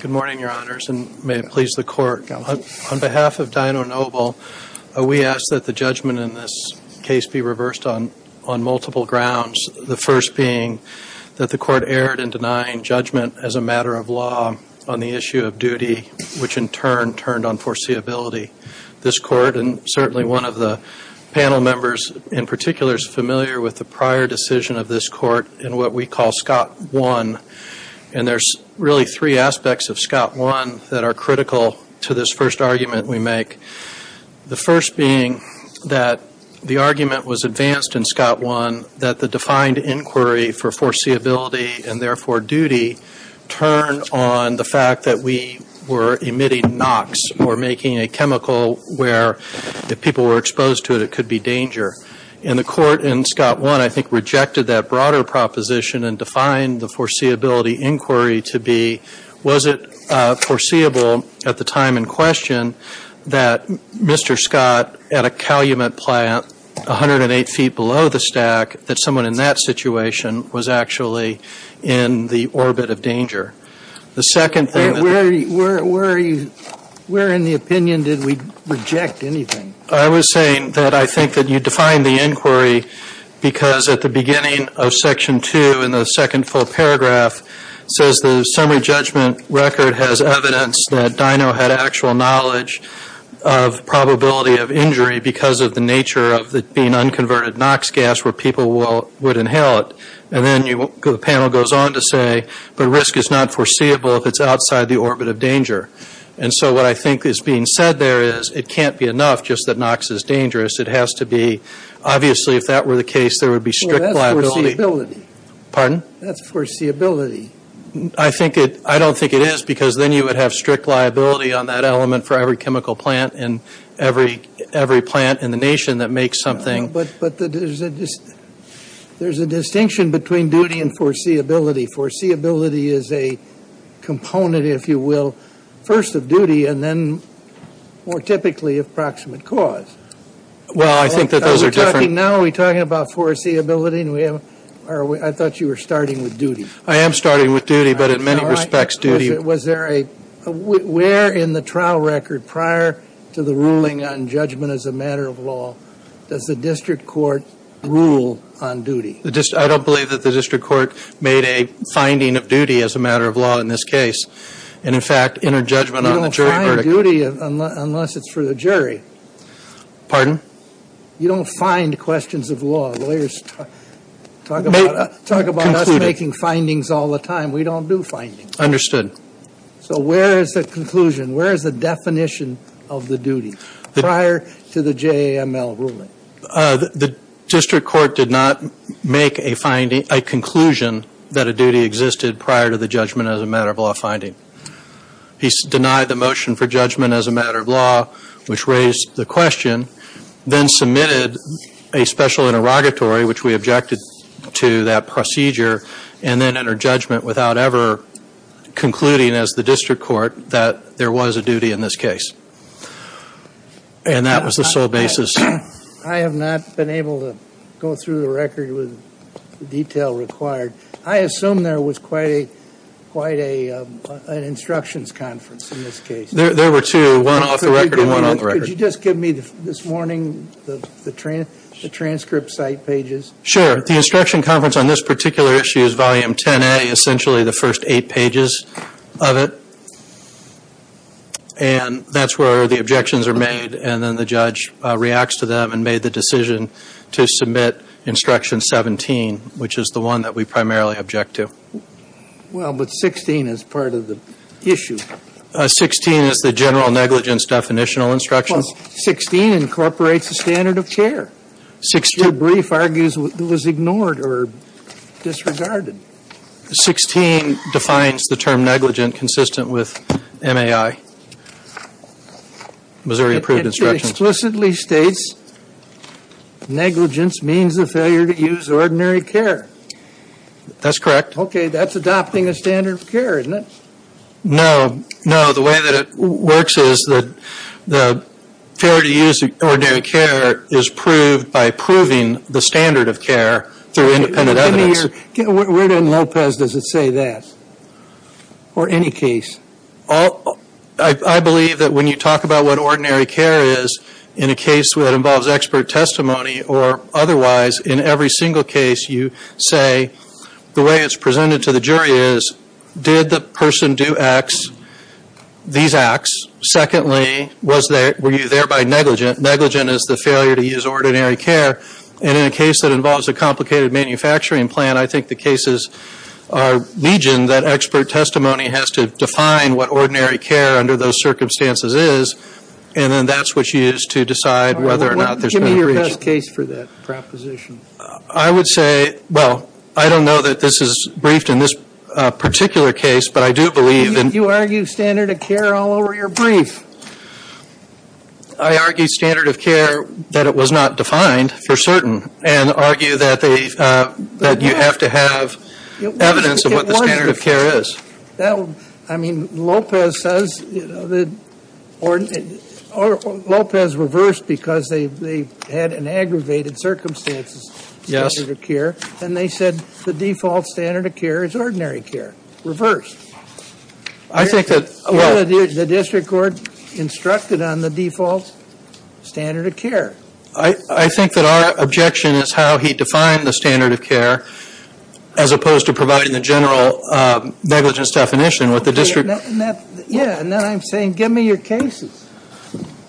Good morning, your honors, and may it please the court. On behalf of Dyno Nobel, we ask that the judgment in this case be reversed on multiple grounds, the first being that the court erred in denying judgment as a matter of law on the issue of duty, which in turn turned on foreseeability. This court, and certainly one of the panel members in particular, is familiar with the prior decision of this court in what we call Scott 1, and there's really three aspects of Scott 1 that are critical to this first argument we make. The first being that the argument was advanced in Scott 1 that the defined inquiry for foreseeability and therefore duty turned on the fact that we were emitting NOx or making a chemical where, if people were exposed to it, it could be danger. And the court in Scott 1, I think, rejected that broader proposition and defined the foreseeability inquiry to be, was it foreseeable at the time in question that Mr. Scott, at a calumet plant 108 feet below the stack, that someone in that situation was actually in the orbit of danger? The second thing Where in the opinion did we reject anything? I was saying that I think that you defined the inquiry because at the beginning of Section 2 in the second full paragraph, it says the summary judgment record has evidence that Dyno had actual knowledge of probability of injury because of the nature of it being unconverted NOx gas where people would inhale it. And then the panel goes on to say, but risk is not foreseeable if it's outside the orbit of danger. And so what I think is being said there is it can't be enough just that NOx is dangerous. It has to be, obviously, if that were the case, there would be strict liability. Well, that's foreseeability. Pardon? That's foreseeability. I think it, I don't think it is because then you would have strict liability on that element for every chemical plant and every plant in the nation that makes something. But there's a distinction between duty and foreseeability. Foreseeability is a component, if you will, first of duty and then more typically of proximate cause. Well, I think that those are different Now are we talking about foreseeability? I thought you were starting with duty. I am starting with duty, but in many respects duty Was there a, where in the trial record prior to the ruling on judgment as a matter of law does the district court rule on duty? The district, I don't believe that the district court made a finding of duty as a matter of law in this case. And in fact, in her judgment on the jury verdict You don't find duty unless it's for the jury. Pardon? You don't find questions of law. Lawyers talk about us making findings all the time. We don't do findings. Understood. So where is the conclusion? Where is the definition of the duty prior to the JML ruling? The district court did not make a finding, a conclusion that a duty existed prior to the judgment as a matter of law finding. He denied the motion for judgment as a matter of law, which raised the question, then submitted a special interrogatory, which we objected to that procedure and then entered judgment without ever concluding as the district court that there was a duty in this case. And that was the sole basis. I have not been able to go through the record with the detail required. I assume there was quite a, quite a, an instructions conference in this case. There were two, one off the record and one on the record. Could you just give me this morning, the transcript site pages? Sure. The instruction conference on this particular issue is volume 10A, essentially the first eight pages of it. And that's where the objections are made. And then the judge reacts to them and made the decision to submit instruction 17, which is the one that we primarily object to. Well, but 16 is part of the issue. 16 is the general negligence definitional instructions. 16 incorporates the standard of care. Your brief argues it was ignored or disregarded. 16 defines the term negligent consistent with MAI, Missouri Approved Instructions. It explicitly states negligence means the failure to use ordinary care. That's correct. Okay. That's adopting a standard of care, isn't it? No, no. The way that it works is that the failure to use ordinary care is proved by proving the standard of care through independent evidence. Where in Lopez does it say that? Or any case? I believe that when you talk about what ordinary care is, in a case where it involves expert testimony or otherwise, in every single case you say, the way it's presented to the jury is, did the person do X, these acts? Secondly, were you thereby negligent? Negligent is the failure to use ordinary care. And in a case that involves a complicated manufacturing plan, I think the cases are legion that expert testimony has to define what ordinary care under those circumstances is. And then that's what you use to decide whether or not there's been a breach. Give me your best case for that proposition. I would say, well, I don't know that this is briefed in this particular case, but I do believe that... You argue standard of care all over your brief. I argue standard of care, that it was not defined for certain. And argue that you have to have evidence of what the standard of care is. I mean, Lopez says... Lopez reversed because they had an aggravated circumstances standard of care. And they said the default standard of care is ordinary care. Reverse. I think that... Well, the district court instructed on the default standard of care. I think that our objection is how he defined the standard of care, as opposed to providing the general negligence definition with the district... Yeah, and then I'm saying, give me your cases.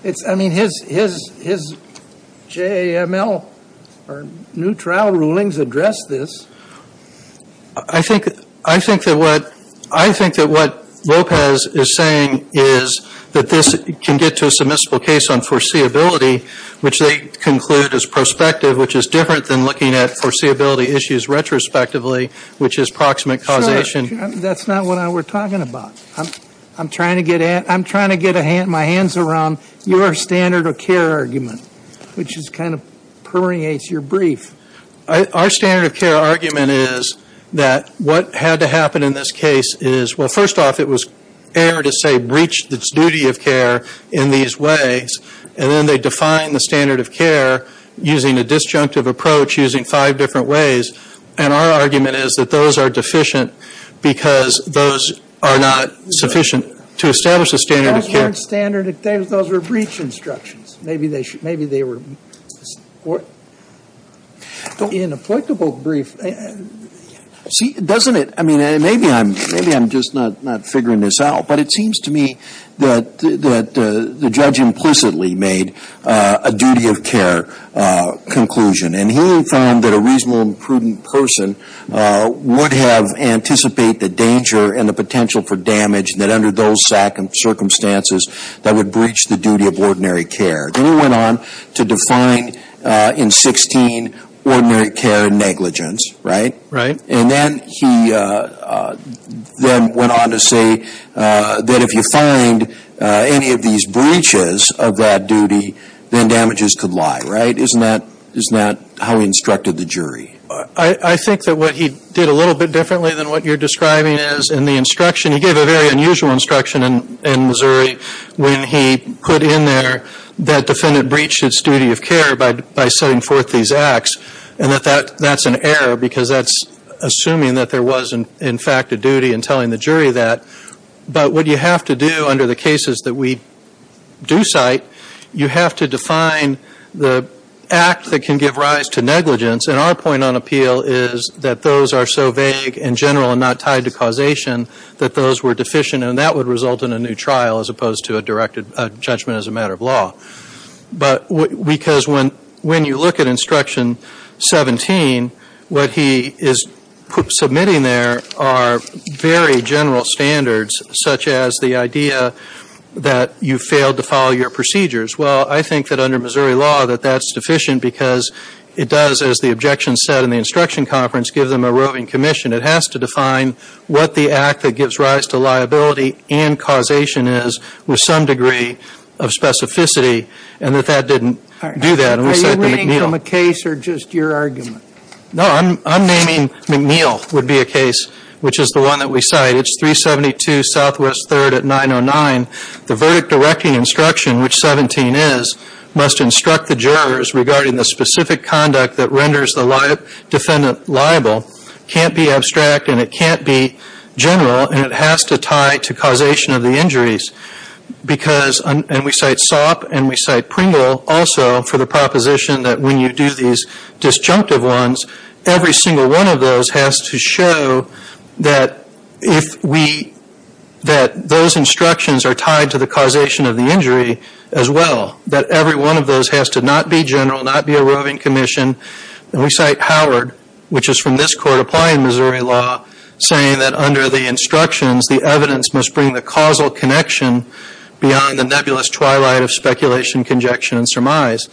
It's, I mean, his JML or new trial rulings address this. I think that what Lopez is saying is that this can get to a submissible case on foreseeability, which they conclude is prospective, which is different than looking at foreseeability issues retrospectively, which is proximate causation. That's not what we're talking about. I'm trying to get my hands around your standard of care argument, which is kind of permeates your brief. Our standard of care argument is that what had to happen in this case is, well, first off, it was error to say breach the duty of care in these ways. And then they define the standard of care using a disjunctive approach, using five different ways. And our argument is that those are deficient, because those are not sufficient to establish a standard of care. Those weren't standard. Those were breach instructions. Maybe they were... In the applicable brief, see, doesn't it? I mean, maybe I'm just not figuring this out, but it seems to me that the judge implicitly made a duty of care conclusion. And he found that a reasonable and prudent person would have anticipate the danger and the potential for damage that under those circumstances that would breach the duty of ordinary care. Then he went on to define in 16, ordinary care negligence, right? Right. And then he then went on to say that if you find any of these breaches of that duty, then damages could lie, right? Isn't that how he instructed the jury? I think that what he did a little bit differently than what you're describing is in the instruction, he gave a very unusual instruction in Missouri when he put in there that defendant breached its duty of care by setting forth these acts. And that's an error, because that's assuming that there was, in fact, a duty in telling the jury that. But what you have to do under the cases that we do cite, you have to define the act that can give rise to negligence. And our point on appeal is that those are so vague and general and not tied to causation that those were deficient. And that would result in a new trial as opposed to a judgment as a matter of law. But because when you look at instruction 17, what he is submitting there are very general standards, such as the idea that you failed to follow your procedures. Well, I think that under Missouri law that that's deficient because it does, as the objection said in the instruction conference, give them a roving commission. It has to define what the act that gives rise to liability and causation is with some degree of specificity. And that that didn't do that. And we cite the McNeil. Are you reading from a case or just your argument? No, I'm naming McNeil would be a case, which is the one that we cite. It's 372 Southwest 3rd at 909. The verdict directing instruction, which 17 is, must instruct the jurors regarding the specific conduct that renders the defendant liable can't be abstract and it can't be general. And it has to tie to causation of the injuries. Because, and we cite Sopp and we cite Pringle also for the proposition that when you do these disjunctive ones, every single one of those has to show that if we, that those instructions are tied to the causation of the injury as well. That every one of those has to not be general, not be a roving commission. And we cite Howard, which is from this court applying Missouri law, saying that under the instructions, the evidence must bring the causal connection beyond the nebulous twilight of speculation, conjecture and surmise.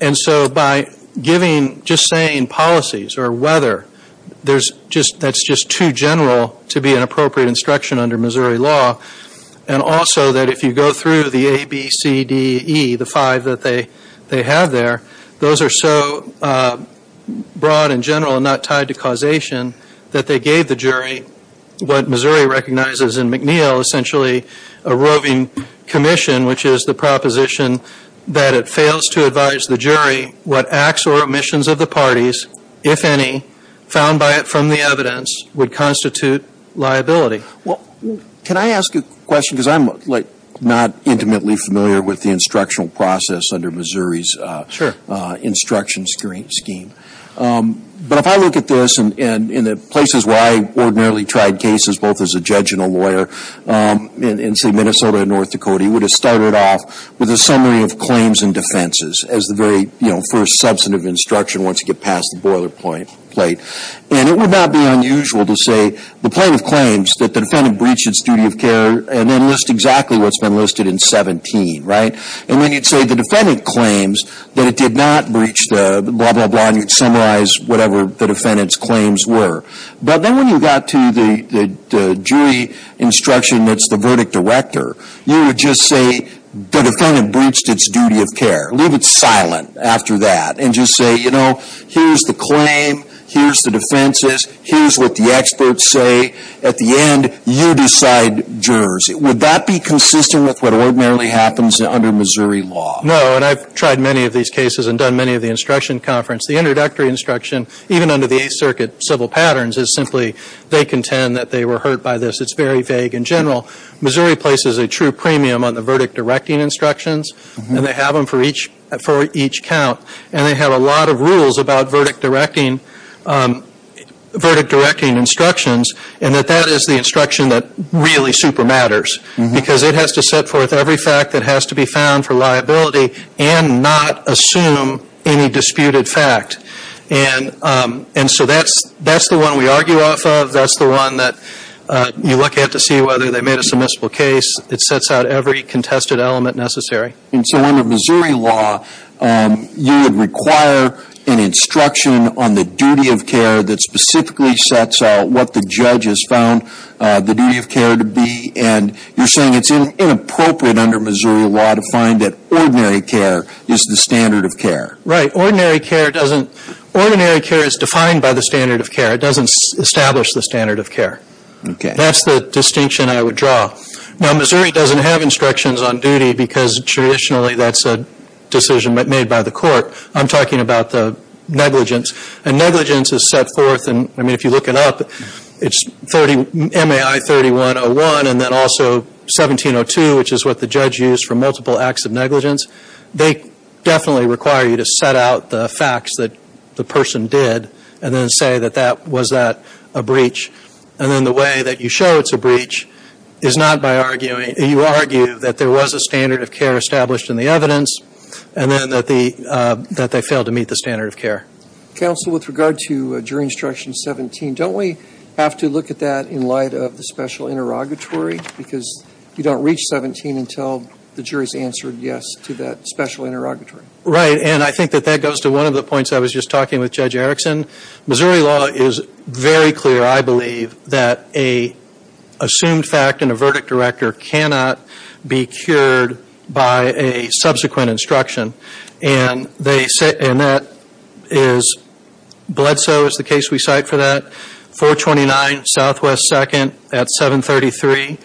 And so by giving, just saying policies or weather, there's just, that's just too general to be an appropriate instruction under Missouri law. And also that if you go through the A, B, C, D, E, the five that they, they have there, those are so broad and general and not tied to causation that they gave the jury what Missouri recognizes in McNeil, essentially a roving commission, which is the proposition that it fails to advise the jury what acts or omissions of the parties, if any, found by it from the evidence, would constitute liability. Well, can I ask you a question? Because I'm, like, not intimately familiar with the instructional process under Missouri's instruction scheme. But if I look at this, and in the places where I ordinarily tried cases, both as a judge and a lawyer, in, say, Minnesota and North Dakota, you would have started off with a summary of claims and defenses as the very, you know, first substantive instruction once you get past the boilerplate. And it would not be unusual to say, the plaintiff claims that the defendant breached its duty of care, and then list exactly what's been listed in 17, right? And then you'd say, the defendant claims that it did not breach the blah, blah, blah, and you'd summarize whatever the defendant's claims were. But then when you got to the jury instruction that's the verdict director, you would just say, the defendant breached its duty of care. Leave it silent after that, and just say, you know, here's the claim, here's the defenses, here's what the experts say. At the end, you decide jurors. Would that be consistent with what ordinarily happens under Missouri law? No, and I've tried many of these cases and done many of the instruction conference. The introductory instruction, even under the Eighth Circuit civil patterns, is simply, they contend that they were hurt by this. It's very vague in general. Missouri places a true premium on the verdict directing instructions, and they have them for each count. And they have a lot of rules about verdict directing instructions. And that that is the instruction that really super matters. Because it has to set forth every fact that has to be found for liability, and not assume any disputed fact. And so that's the one we argue off of. That's the one that you look at to see whether they made a submissible case. It sets out every contested element necessary. And so under Missouri law, you would require an instruction on the duty of care that specifically sets out what the judge has found the duty of care to be. And you're saying it's inappropriate under Missouri law to find that ordinary care is the standard of care. Right. Ordinary care doesn't, ordinary care is defined by the standard of care. It doesn't establish the standard of care. Okay. That's the distinction I would draw. Now Missouri doesn't have instructions on duty, because traditionally that's a decision made by the court. I'm talking about the negligence. And negligence is set forth, I mean if you look it up, it's MAI 3101 and then also 1702, which is what the judge used for multiple acts of negligence. They definitely require you to set out the facts that the person did, and then say was that a breach. And then the way that you show it's a breach is not by arguing, you argue that there was a standard of care established in the evidence, and then that they failed to meet the standard of care. Counsel, with regard to jury instruction 17, don't we have to look at that in light of the special interrogatory? Because you don't reach 17 until the jury's answered yes to that special interrogatory. Right, and I think that that goes to one of the points I was just talking with Judge Erickson. Missouri law is very clear, I believe, that a assumed fact and a verdict director cannot be cured by a subsequent instruction. And that is Bledsoe is the case we cite for that, 429 Southwest 2nd at 733.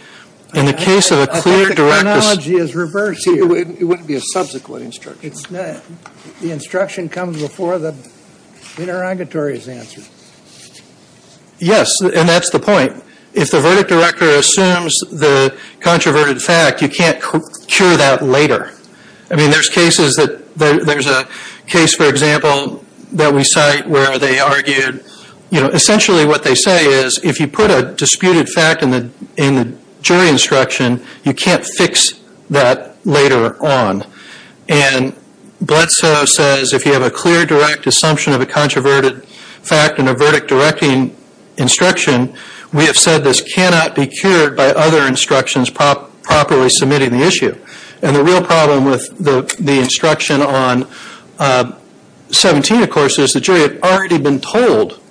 I think the chronology is reversed here. It wouldn't be a subsequent instruction. The instruction comes before the interrogatory is answered. Yes, and that's the point. If the verdict director assumes the controverted fact, you can't cure that later. I mean, there's cases that there's a case, for example, that we cite where they argued, you know, essentially what they say is, if you put a disputed fact in the jury instruction, you can't fix that later on. And Bledsoe says, if you have a clear direct assumption of a controverted fact and a verdict directing instruction, we have said this cannot be cured by other instructions properly submitting the issue. And the real problem with the instruction on 17, of course, is the jury had already been told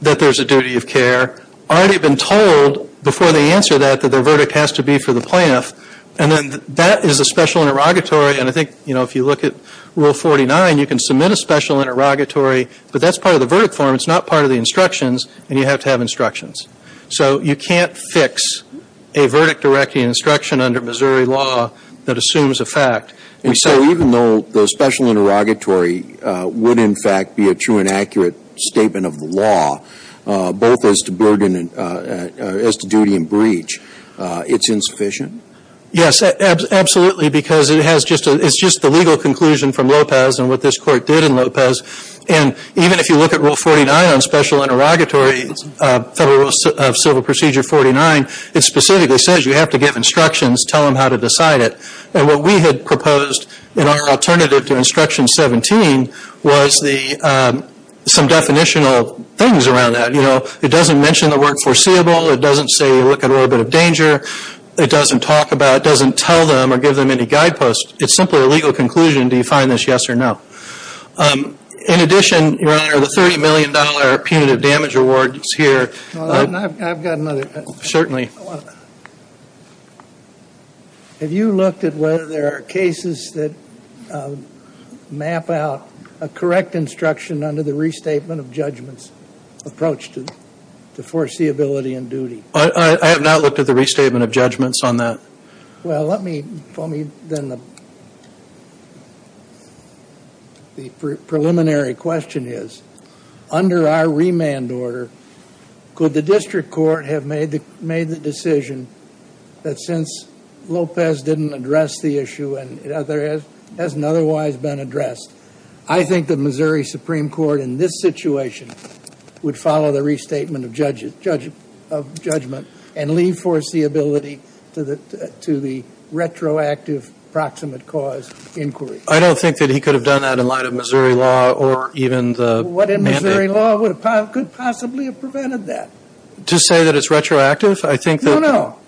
that there's a duty of care, already been told before they answer that that their verdict has to be for the plaintiff. And then that is a special interrogatory. And I think, you know, if you look at Rule 49, you can submit a special interrogatory, but that's part of the verdict form. It's not part of the instructions. And you have to have instructions. So you can't fix a verdict directing instruction under Missouri law that assumes a fact. And so even though the special interrogatory would, in fact, be a true and accurate statement of the law, both as to burden and as to duty and breach, it's insufficient? Yes, absolutely. Because it has just, it's just the legal conclusion from Lopez and what this court did in Lopez. And even if you look at Rule 49 on special interrogatory, Federal Rule of Civil Procedure 49, it specifically says you have to give instructions, tell them how to decide it. And what we had proposed in our alternative to Instruction 17 was the, some definitional things around that. You know, it doesn't mention the word foreseeable. It doesn't say look at orbit of danger. It doesn't talk about, doesn't tell them or give them any guideposts. It's simply a legal conclusion. Do you find this yes or no? In addition, Your Honor, the $30 million punitive damage award is here. I've got another. Certainly. Have you looked at whether there are cases that map out a correct instruction under the restatement of judgments approach to foreseeability and duty? I have not looked at the restatement of judgments on that. Well, let me, then the preliminary question is, under our remand order, could the district court have made the decision that since Lopez didn't address the issue and it hasn't otherwise been addressed, I think the Missouri Supreme Court in this situation would follow the restatement of judgment and leave foreseeability to the retroactive proximate cause inquiry? I don't think that he could have done that in light of Missouri law or even the mandate. What in Missouri law could possibly have prevented that? To say that it's retroactive? I think that... No, no.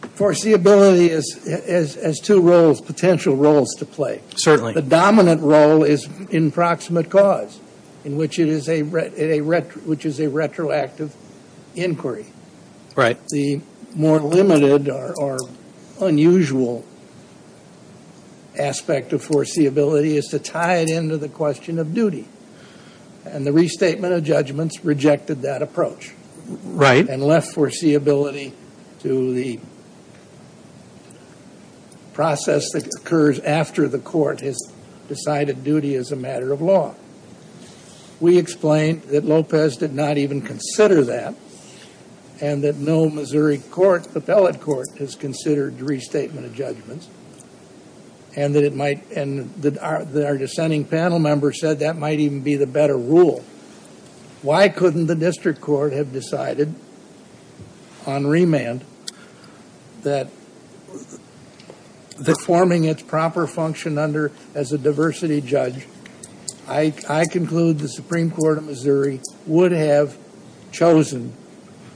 Foreseeability has two roles, potential roles to play. Certainly. The dominant role is in proximate cause, which is a retroactive inquiry. Right. The more limited or unusual aspect of foreseeability is to tie it into the question of duty. And the restatement of judgments rejected that approach. Right. And left foreseeability to the process that occurs after the court has decided duty as a matter of law. We explained that Lopez did not even consider that and that no Missouri court, appellate court, has considered restatement of judgments. And that it might... And that our dissenting panel member said that might even be the better rule. Why couldn't the district court have decided on remand that forming its proper function under as a diversity judge, I conclude the Supreme Court of Missouri would have chosen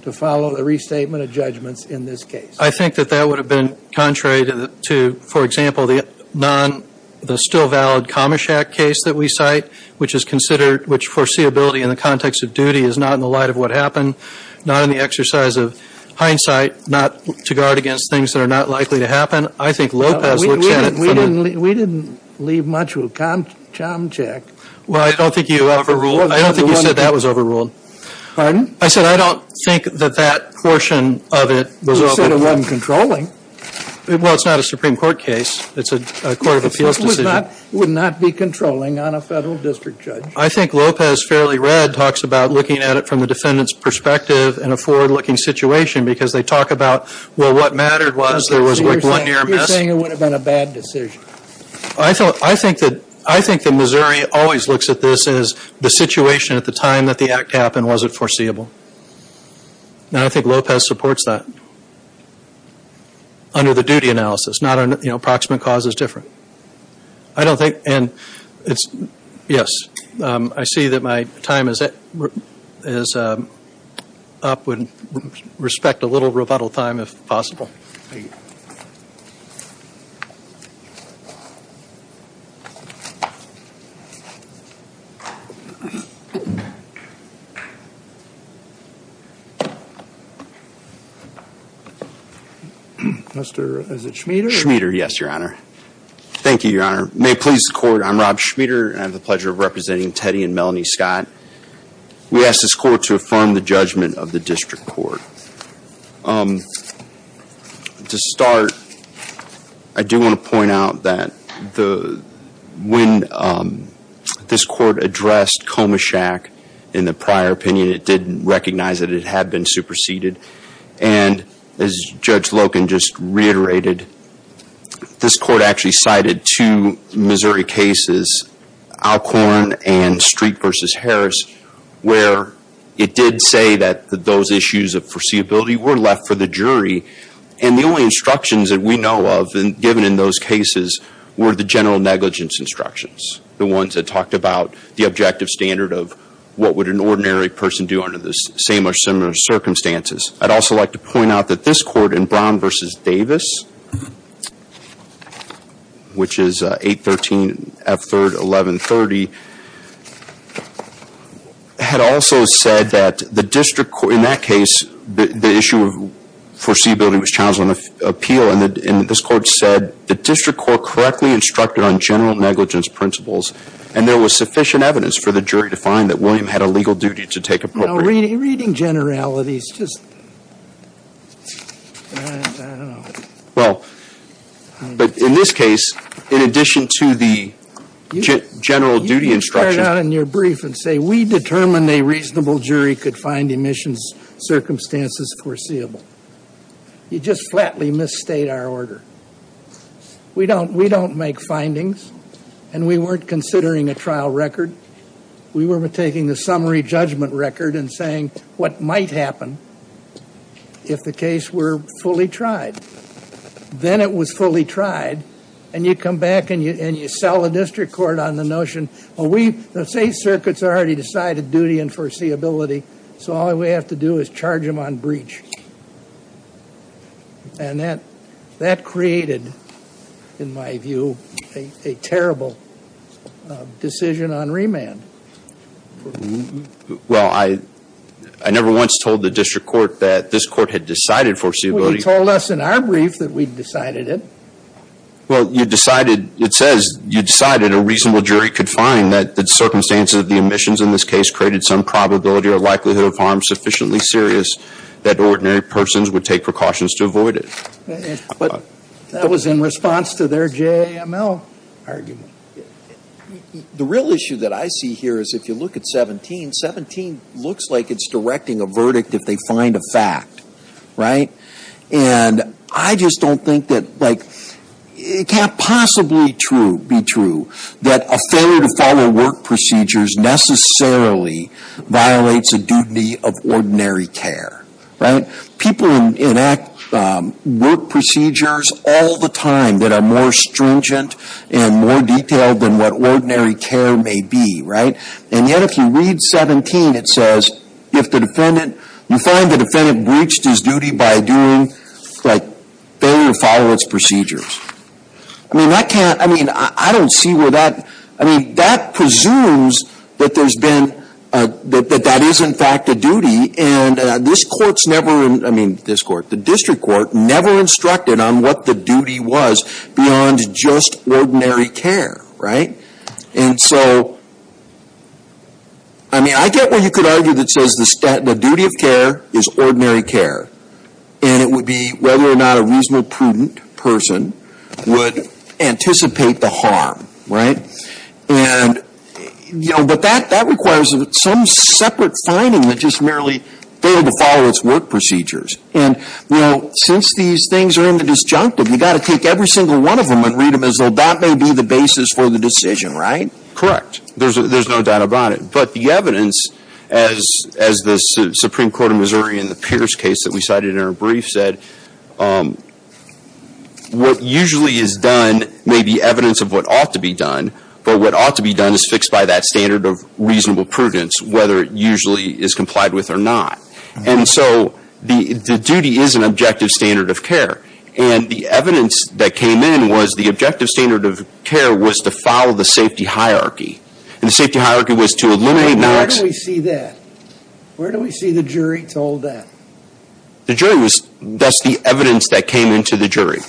to follow the restatement of judgments in this case. I think that that would have been contrary to, for example, the non... the still valid Comish Act case that we cite, which is considered... which foreseeability in the context of duty is not in the light of what happened, not in the exercise of hindsight, not to guard against things that are not likely to happen. I think Lopez looks at it... We didn't leave much of a charm check. Well, I don't think you overruled... I don't think you said that was overruled. Pardon? I said, I don't think that that portion of it was... You said it wasn't controlling. Well, it's not a Supreme Court case. It's a court of appeals decision. It would not be controlling on a federal district judge. I think Lopez, fairly read, talks about looking at it from the defendant's perspective in a forward-looking situation because they talk about, well, what mattered was there was one near miss. You're saying it would have been a bad decision. I think that Missouri always looks at this as the situation at the time that the act happened wasn't foreseeable. And I think Lopez supports that under the duty analysis, not on, you know, approximate cause is different. I don't think... And it's... Yes. I see that my time is up. Would respect a little rebuttal time if possible. Thank you. Mr... Is it Schmieder? Schmieder, yes, Your Honor. Thank you, Your Honor. I'm Rob Schmieder. I have the pleasure of representing Teddy and Melanie Scott. We ask this court to affirm the judgment of the district court. To start, I do want to point out that when this court addressed Coma Shack in the prior opinion, it didn't recognize that it had been superseded. And as Judge Loken just reiterated, this court actually cited two Missouri cases, Alcorn and Street v. Harris, where it did say that those issues of foreseeability were left for the jury. And the only instructions that we know of given in those cases were the general negligence instructions. The ones that talked about the objective standard of what would an ordinary person do under the same or similar circumstances. I'd also like to point out that this court in Brown v. Davis, which is 813 F. 3rd, 1130, had also said that the district court... In that case, the issue of foreseeability was challenged on appeal. And this court said, the district court correctly instructed on general negligence principles. And there was sufficient evidence for the jury to find that William had a legal duty to take appropriate... No, reading generalities, just... I don't know. Well, but in this case, in addition to the general duty instruction... You can start out in your brief and say, we determined a reasonable jury could find emissions circumstances foreseeable. You just flatly misstate our order. We don't make findings. And we weren't considering a trial record. We were taking the summary judgment record and saying, what might happen if the case were fully tried? Then it was fully tried. And you come back and you sell the district court on the notion, well, we... The state circuits already decided duty and foreseeability. So all we have to do is charge them on breach. Well, I never once told the district court that this court had decided foreseeability. You told us in our brief that we decided it. Well, you decided, it says, you decided a reasonable jury could find that the circumstances of the emissions in this case created some probability or likelihood of harm sufficiently serious that ordinary persons would take precautions to avoid it. But that was in response to their JML argument. The real issue that I see here is if you look at 17, 17 looks like it's directing a verdict if they find a fact, right? And I just don't think that, like, it can't possibly be true that a failure to follow work procedures necessarily violates a duty of ordinary care, right? People enact work procedures all the time that are more stringent and more detailed than what ordinary care may be, right? And yet if you read 17, it says if the defendant, you find the defendant breached his duty by doing, like, failure to follow its procedures. I mean, I can't, I mean, I don't see where that, I mean, that presumes that there's been, that that is in fact a duty. The district court never instructed on what the duty was beyond just ordinary care, right? And so, I mean, I get what you could argue that says the duty of care is ordinary care. And it would be whether or not a reasonable, prudent person would anticipate the harm, right? And, you know, but that requires some separate finding that just merely failed to follow its work procedures. And, you know, since these things are in the disjunctive, you've got to take every single one of them and read them as though that may be the basis for the decision, right? Correct. There's no doubt about it. But the evidence, as the Supreme Court of Missouri in the Pierce case that we cited in our brief said, what usually is done may be evidence of what ought to be done, but what ought to be done is fixed by that standard of reasonable prudence, whether it usually is complied with or not. And so, the duty is an objective standard of care. And the evidence that came in was the objective standard of care was to follow the safety hierarchy. And the safety hierarchy was to eliminate... Where do we see that? Where do we see the jury told that? The jury was... That's the evidence that came into the jury.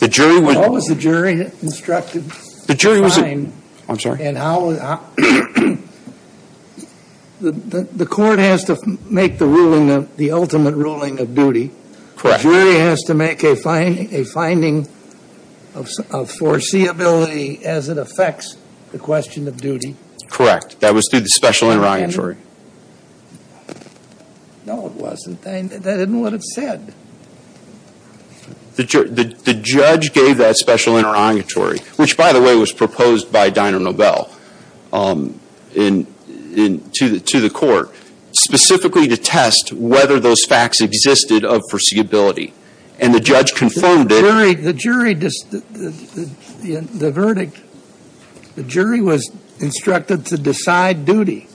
The jury would... What was the jury instructed to find? The jury was... I'm sorry. And how... The court has to make the ruling, the ultimate ruling of duty. Correct. Jury has to make a finding of foreseeability as it affects the question of duty. Correct. That was through the special interrogatory. No, it wasn't. That isn't what it said. The judge gave that special interrogatory, which, by the way, was proposed by Diner-Nobel to the court, specifically to test whether those facts existed of foreseeability. And the judge confirmed it... The jury... The verdict, the jury was instructed to decide duty.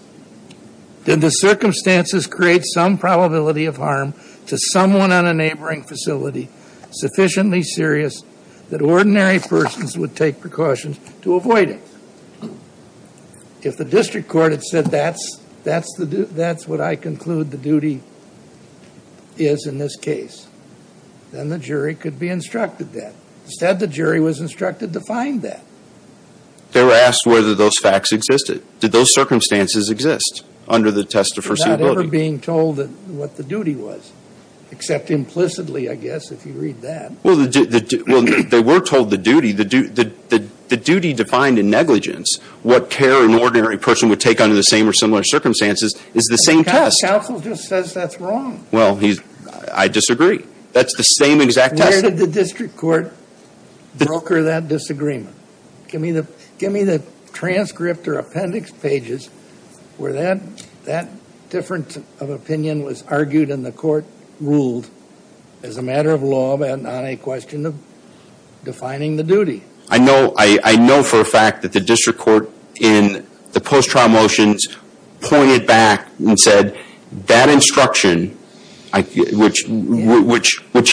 Did the circumstances create some probability of harm to someone on a neighboring facility sufficiently serious that ordinary persons would take precautions to avoid it? If the district court had said, that's what I conclude the duty is in this case, then the jury could be instructed that. Instead, the jury was instructed to find that. They were asked whether those facts existed. Did those circumstances exist under the test of foreseeability? Without ever being told what the duty was, except implicitly, I guess, if you read that. Well, they were told the duty. The duty defined in negligence, what care an ordinary person would take under the same or similar circumstances, is the same test. Counsel just says that's wrong. Well, I disagree. That's the same exact test. Where did the district court broker that disagreement? Give me the transcript or appendix pages where that difference of opinion was argued and the court ruled as a matter of law, but not a question of defining the duty. I know for a fact that the district court in the post-trial motions pointed back and said, that instruction, which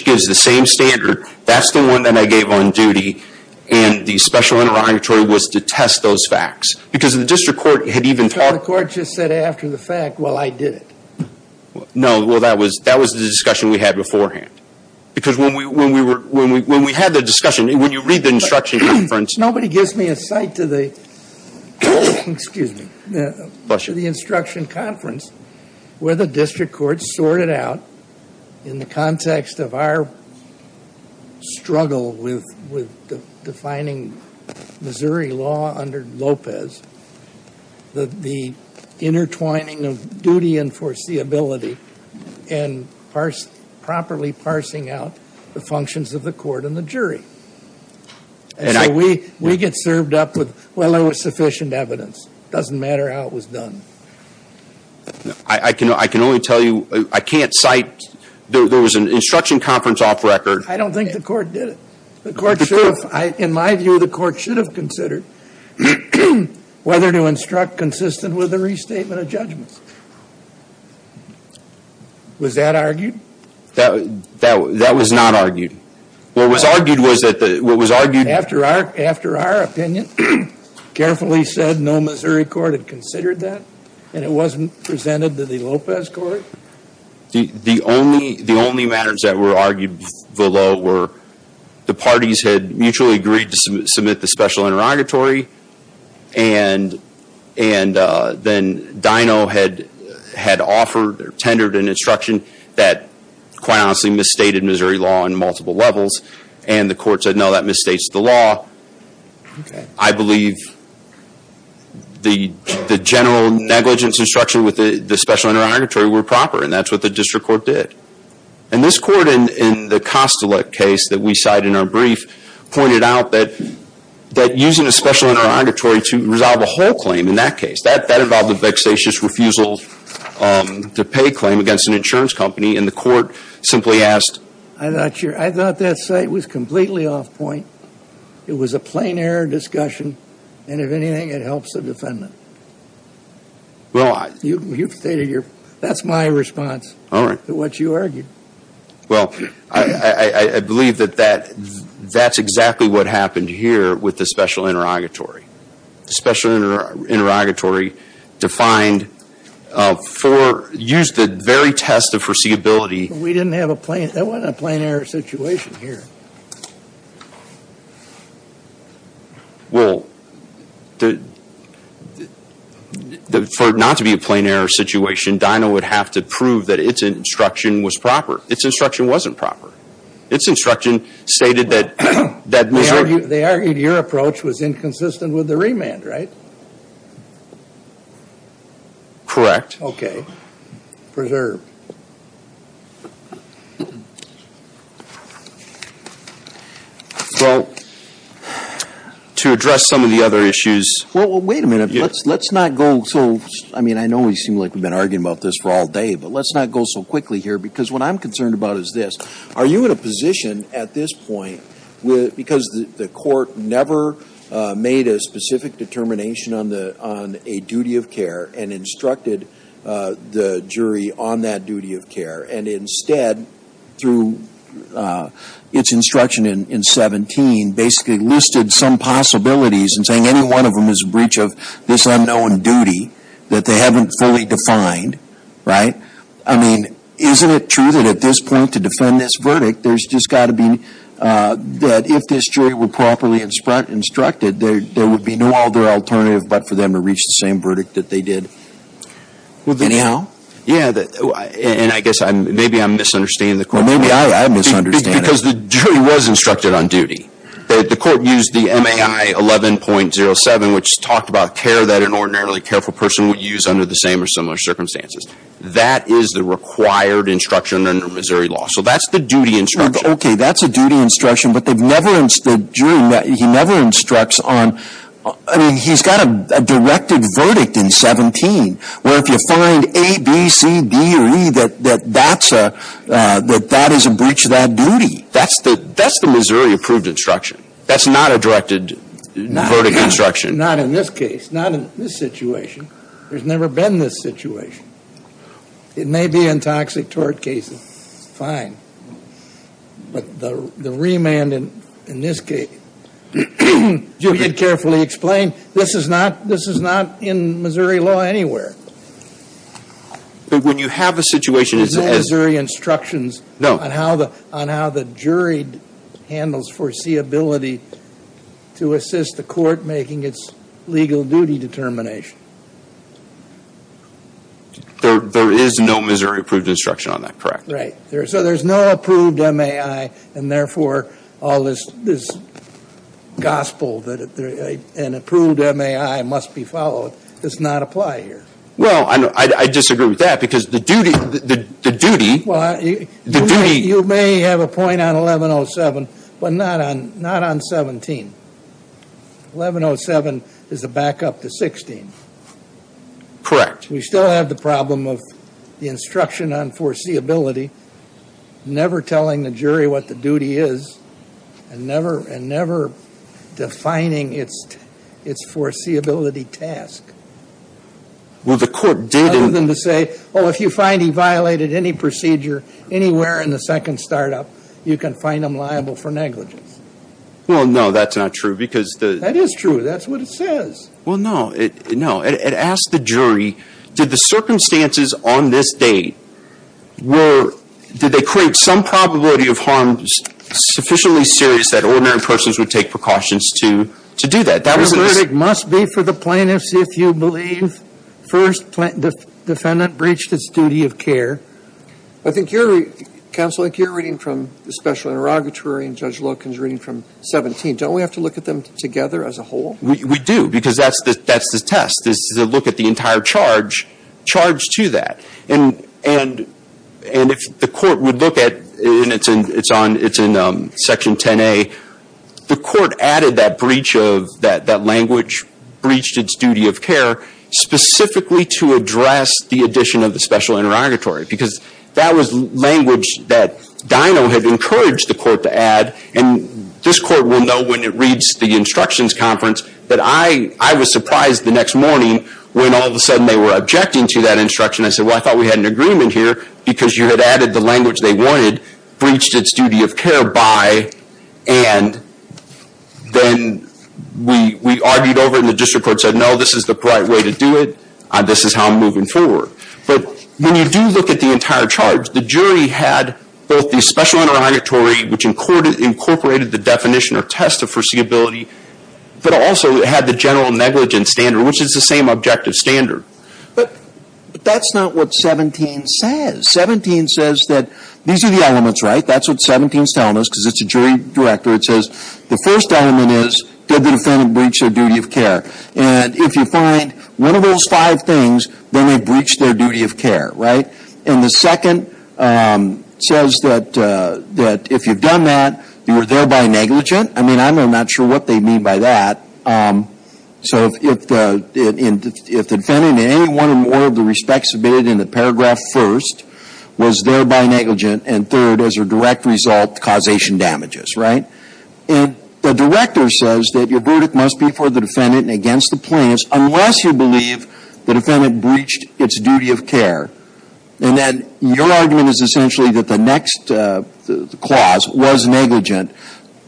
gives the same standard, that's the one that I gave on duty. And the special interrogatory was to test those facts. Because the district court had even talked- The court just said after the fact, well, I did it. No, well, that was the discussion we had beforehand. Because when we had the discussion, when you read the instruction conference- Nobody gives me a sight to the instruction conference where the district court sorted out, in the context of our struggle with defining Missouri law under Lopez, the intertwining of duty and foreseeability and properly parsing out the functions of the court and the jury. And so we get served up with, well, there was sufficient evidence. Doesn't matter how it was done. I can only tell you, I can't cite, there was an instruction conference off record- I don't think the court did it. The court should have, in my view, the court should have considered whether to instruct consistent with the restatement of judgments. Was that argued? That was not argued. What was argued was that the- What was argued- After our opinion carefully said no Missouri court had considered that and it wasn't presented to the Lopez court? The only matters that were argued below were the parties had mutually agreed to submit the special interrogatory and then Dino had offered or tendered an instruction that quite honestly misstated Missouri law on multiple levels and the court said no, that misstates the law. I believe the general negligence instruction with the special interrogatory were proper and that's what the district court did. And this court in the Kostilek case that we cite in our brief pointed out that using a special interrogatory to resolve a whole claim in that case, that involved a vexatious refusal to pay claim against an insurance company and the court simply asked- I thought that site was completely off point. It was a plain air discussion and if anything it helps the defendant. Well, I- You've stated your- That's my response to what you argued. Well, I believe that that's exactly what happened here with the special interrogatory. The special interrogatory defined for- Used the very test of foreseeability- We didn't have a plain- That wasn't a plain air situation here. Well, for it not to be a plain air situation, Dinah would have to prove that it's instruction was proper. It's instruction wasn't proper. It's instruction stated that Missouri- They argued your approach was inconsistent with the remand, right? Correct. Okay. Preserve. Well, to address some of the other issues- Well, wait a minute. Let's not go so- I mean, I know we seem like we've been arguing about this for all day, but let's not go so quickly here because what I'm concerned about is this. Are you in a position at this point, because the court never made a specific determination on a duty of care and instructed the jury on that duty of care and instead, through its instruction in 17, basically listed some possibilities and saying any one of them is a breach of this unknown duty that they haven't fully defined, right? I mean, isn't it true that at this point to defend this verdict, there's just got to be- That if this jury were properly instructed, there would be no other alternative but for them to reach the same verdict that they did. Anyhow- And I guess maybe I'm misunderstanding the question. Maybe I'm misunderstanding. Because the jury was instructed on duty. The court used the MAI 11.07, which talked about care that an ordinarily careful person would use under the same or similar circumstances. That is the required instruction under Missouri law. So that's the duty instruction. Okay. That's a duty instruction, but the jury, he never instructs on- I mean, he's got a directed verdict in 17 where if you find A, B, C, D, or E, that that is a breach of that duty. That's the Missouri approved instruction. That's not a directed verdict instruction. Not in this case, not in this situation. There's never been this situation. It may be in toxic tort cases, fine. But the remand in this case, you can carefully explain, this is not in Missouri law anywhere. But when you have a situation- There's no Missouri instructions- No. On how the jury handles foreseeability to assist the court making its legal duty determination. There is no Missouri approved instruction on that, correct? Right. So there's no approved MAI, and therefore, all this gospel that an approved MAI must be followed does not apply here. Well, I disagree with that because the duty- You may have a point on 1107, but not on 17. 1107 is a backup to 16. Correct. We still have the problem of the instruction on foreseeability, never telling the jury what the duty is, and never defining its foreseeability task. Well, the court did- Other than to say, oh, if you find he violated any procedure, anywhere in the second startup, you can find them liable for negligence. Well, no, that's not true because the- That is true. That's what it says. Well, no. It asked the jury, did the circumstances on this date were- did they create some probability of harm sufficiently serious that ordinary persons would take precautions to do that? That was- The verdict must be for the plaintiffs if you believe first defendant breached its duty of care. I think you're- Counsel, like you're reading from the special interrogatory, and Judge Loken's reading from 17. Don't we have to look at them together as a whole? We do because that's the test. This is a look at the entire charge to that. And if the court would look at, and it's in Section 10A, the court added that breach of- that language breached its duty of care specifically to address the addition of the special interrogatory because that was language that Dino had encouraged the court to add. And this court will know when it reads the instructions conference that I was surprised the next morning when all of a sudden they were objecting to that instruction. I said, well, I thought we had an agreement here because you had added the language they wanted, breached its duty of care by, and then we argued over in the district court said, no, this is the right way to do it. This is how I'm moving forward. But when you do look at the entire charge, the jury had both the special interrogatory, which incorporated the definition or test of foreseeability, but also had the general negligence standard, which is the same objective standard. But that's not what 17 says. 17 says that these are the elements, right? That's what 17 is telling us because it's a jury director. It says the first element is, did the defendant breach their duty of care? And if you find one of those five things, then they breached their duty of care, right? And the second says that if you've done that, you were thereby negligent. I mean, I'm not sure what they mean by that. So if the defendant in any one or more of the respects submitted in the paragraph first was thereby negligent, and third, as a direct result, causation damages, right? And the director says that your verdict must be for the defendant and against the plaintiffs unless you believe the defendant breached its duty of care. And then your argument is essentially that the next clause was negligent,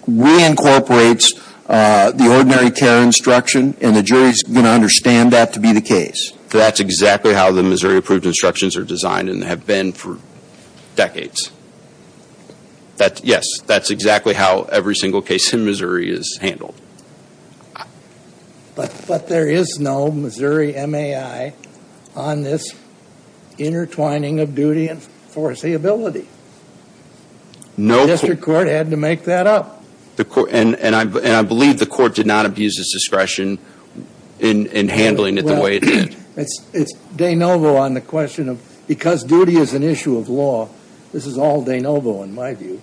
reincorporates the ordinary care instruction, and the jury's going to understand that to be the case. So that's exactly how the Missouri Approved Instructions are designed and have been for decades. Yes, that's exactly how every single case in Missouri is handled. But there is no Missouri MAI on this intertwining of duty and foreseeability. The district court had to make that up. And I believe the court did not abuse its discretion in handling it the way it did. It's de novo on the question of, because duty is an issue of law, this is all de novo in my view.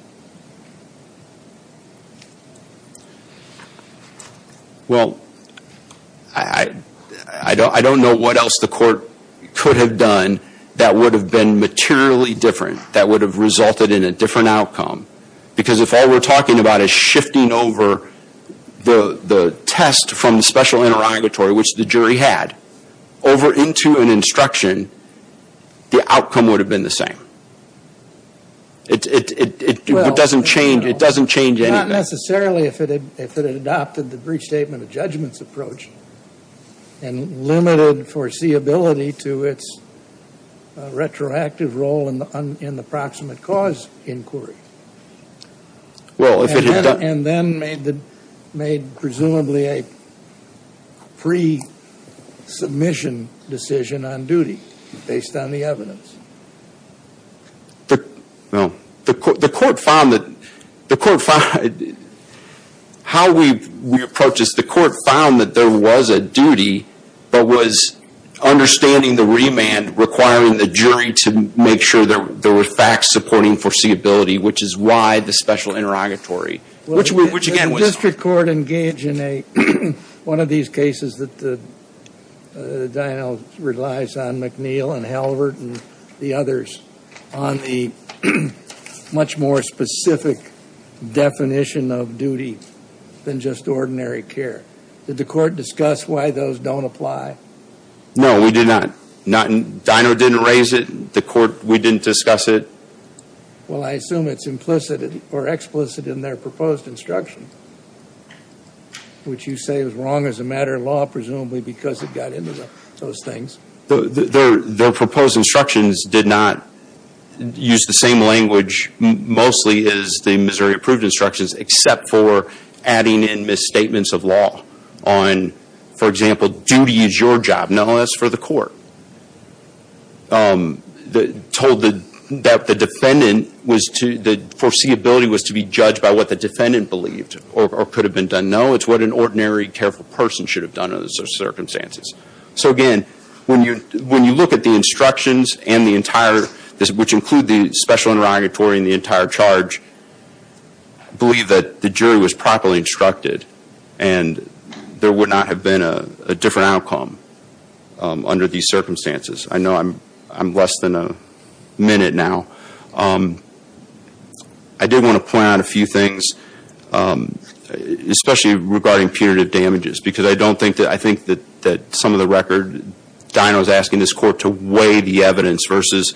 Well, I don't know what else the court could have done that would have been materially different, that would have resulted in a different outcome. Because if all we're talking about is shifting over the test from the special interrogatory, which the jury had, over into an instruction, the outcome would have been the same. It doesn't change anything. Well, not necessarily if it had adopted the brief statement of judgments approach and limited foreseeability to its retroactive role in the proximate cause inquiry. And then made presumably a pre-submission decision on duty based on the evidence. Well, the court found that there was a duty, to make sure that there were facts supporting foreseeability, which is why the special interrogatory. Which again was- The district court engaged in one of these cases that the Dino relies on McNeil and Halvert and the others on the much more specific definition of duty than just ordinary care. Did the court discuss why those don't apply? No, we did not. Dino didn't raise it. The court, we didn't discuss it. Well, I assume it's implicit or explicit in their proposed instruction, which you say was wrong as a matter of law, presumably because it got into those things. Their proposed instructions did not use the same language mostly as the Missouri approved instructions, except for adding in misstatements of law on, for example, duty is your job, not only for the court. They told that the defendant was to, the foreseeability was to be judged by what the defendant believed or could have been done. No, it's what an ordinary careful person should have done in those circumstances. So again, when you look at the instructions and the entire, which include the special interrogatory and the entire charge, believe that the jury was properly instructed and there would not have been a different outcome under these circumstances. I know I'm less than a minute now. I did want to point out a few things, especially regarding punitive damages, because I don't think that, I think that some of the record, Dino's asking this court to weigh the evidence versus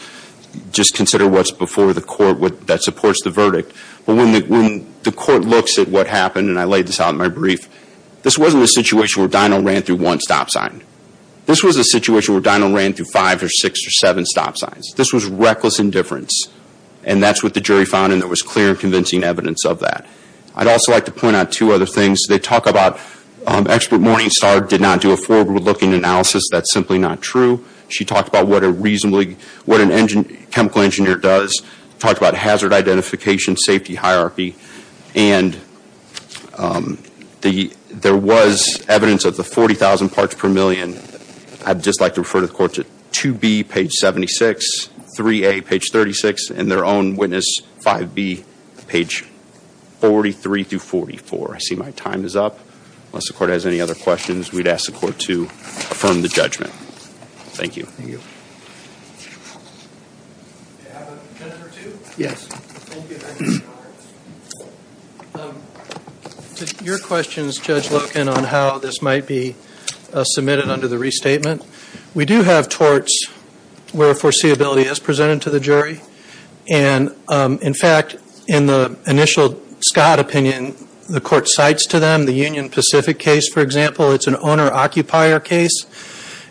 just consider what's before the court that supports the verdict. But when the court looks at what happened and I laid this out in my brief, this wasn't a situation where Dino ran through one stop sign. This was a situation where Dino ran through five or six or seven stop signs. This was reckless indifference. And that's what the jury found and there was clear and convincing evidence of that. I'd also like to point out two other things. They talk about expert Morningstar did not do a forward-looking analysis. That's simply not true. She talked about what a reasonably, what an chemical engineer does, talked about hazard identification, safety hierarchy. And there was evidence of the 40,000 parts per million. I'd just like to refer to the court to 2B, page 76, 3A, page 36, and their own witness 5B, page 43 through 44. I see my time is up. Unless the court has any other questions, we'd ask the court to affirm the judgment. Thank you. Thank you. Did your questions, Judge Loken, on how this might be submitted under the restatement? We do have torts where foreseeability is presented to the jury. And in fact, in the initial Scott opinion, the court cites to them, the Union Pacific case, for example, it's an owner-occupier case.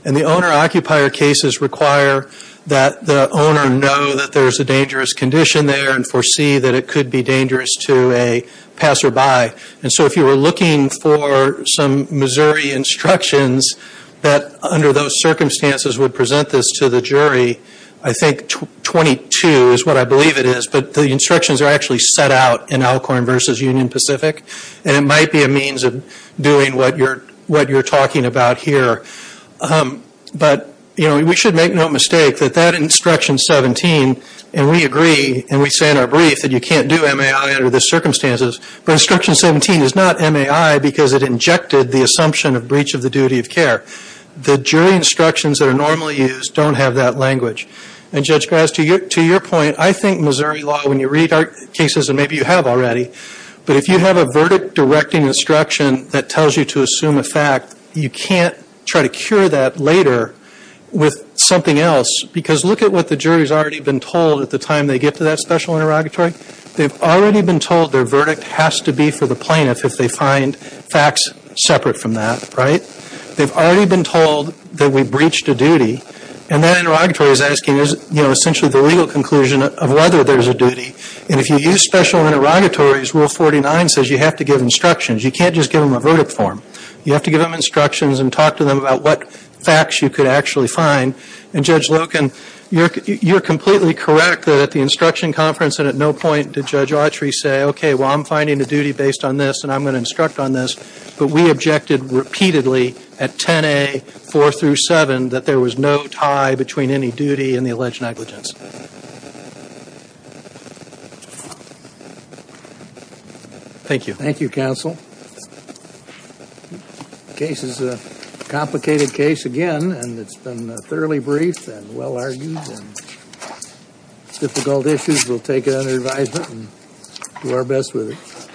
And the owner-occupier cases require that the owner know that there's a dangerous condition there and foresee that it could be dangerous to a passerby. And so if you were looking for some Missouri instructions that under those circumstances would present this to the jury, I think 22 is what I believe it is. But the instructions are actually set out in Alcorn versus Union Pacific. And it might be a means of doing what you're talking about here. But we should make no mistake that that instruction 17, and we agree, and we say in our brief that you can't do MAI under the circumstances, but instruction 17 is not MAI because it injected the assumption of breach of the duty of care. The jury instructions that are normally used don't have that language. And Judge Graz, to your point, I think Missouri law, when you read our cases, and maybe you have already, but if you have a verdict directing instruction that tells you to assume a fact, you can't try to cure that later with something else. Because look at what the jury has already been told at the time they get to that special interrogatory. They've already been told their verdict has to be for the plaintiff if they find facts separate from that, right? They've already been told that we breached a duty. And that interrogatory is asking, you know, essentially the legal conclusion of whether there's a duty. And if you use special interrogatories, Rule 49 says you have to give instructions. You can't just give them a verdict form. You have to give them instructions and talk to them about what facts you could actually find. And Judge Loken, you're completely correct that at the instruction conference and at no point did Judge Autry say, OK, well, I'm finding a duty based on this and I'm going to instruct on this. But we objected repeatedly at 10A, 4 through 7, that there was no tie between any duty and the alleged negligence. Thank you. Thank you, counsel. The case is a complicated case again, and it's been thoroughly brief and well-argued and difficult issues. We'll take it under advisement and do our best with it.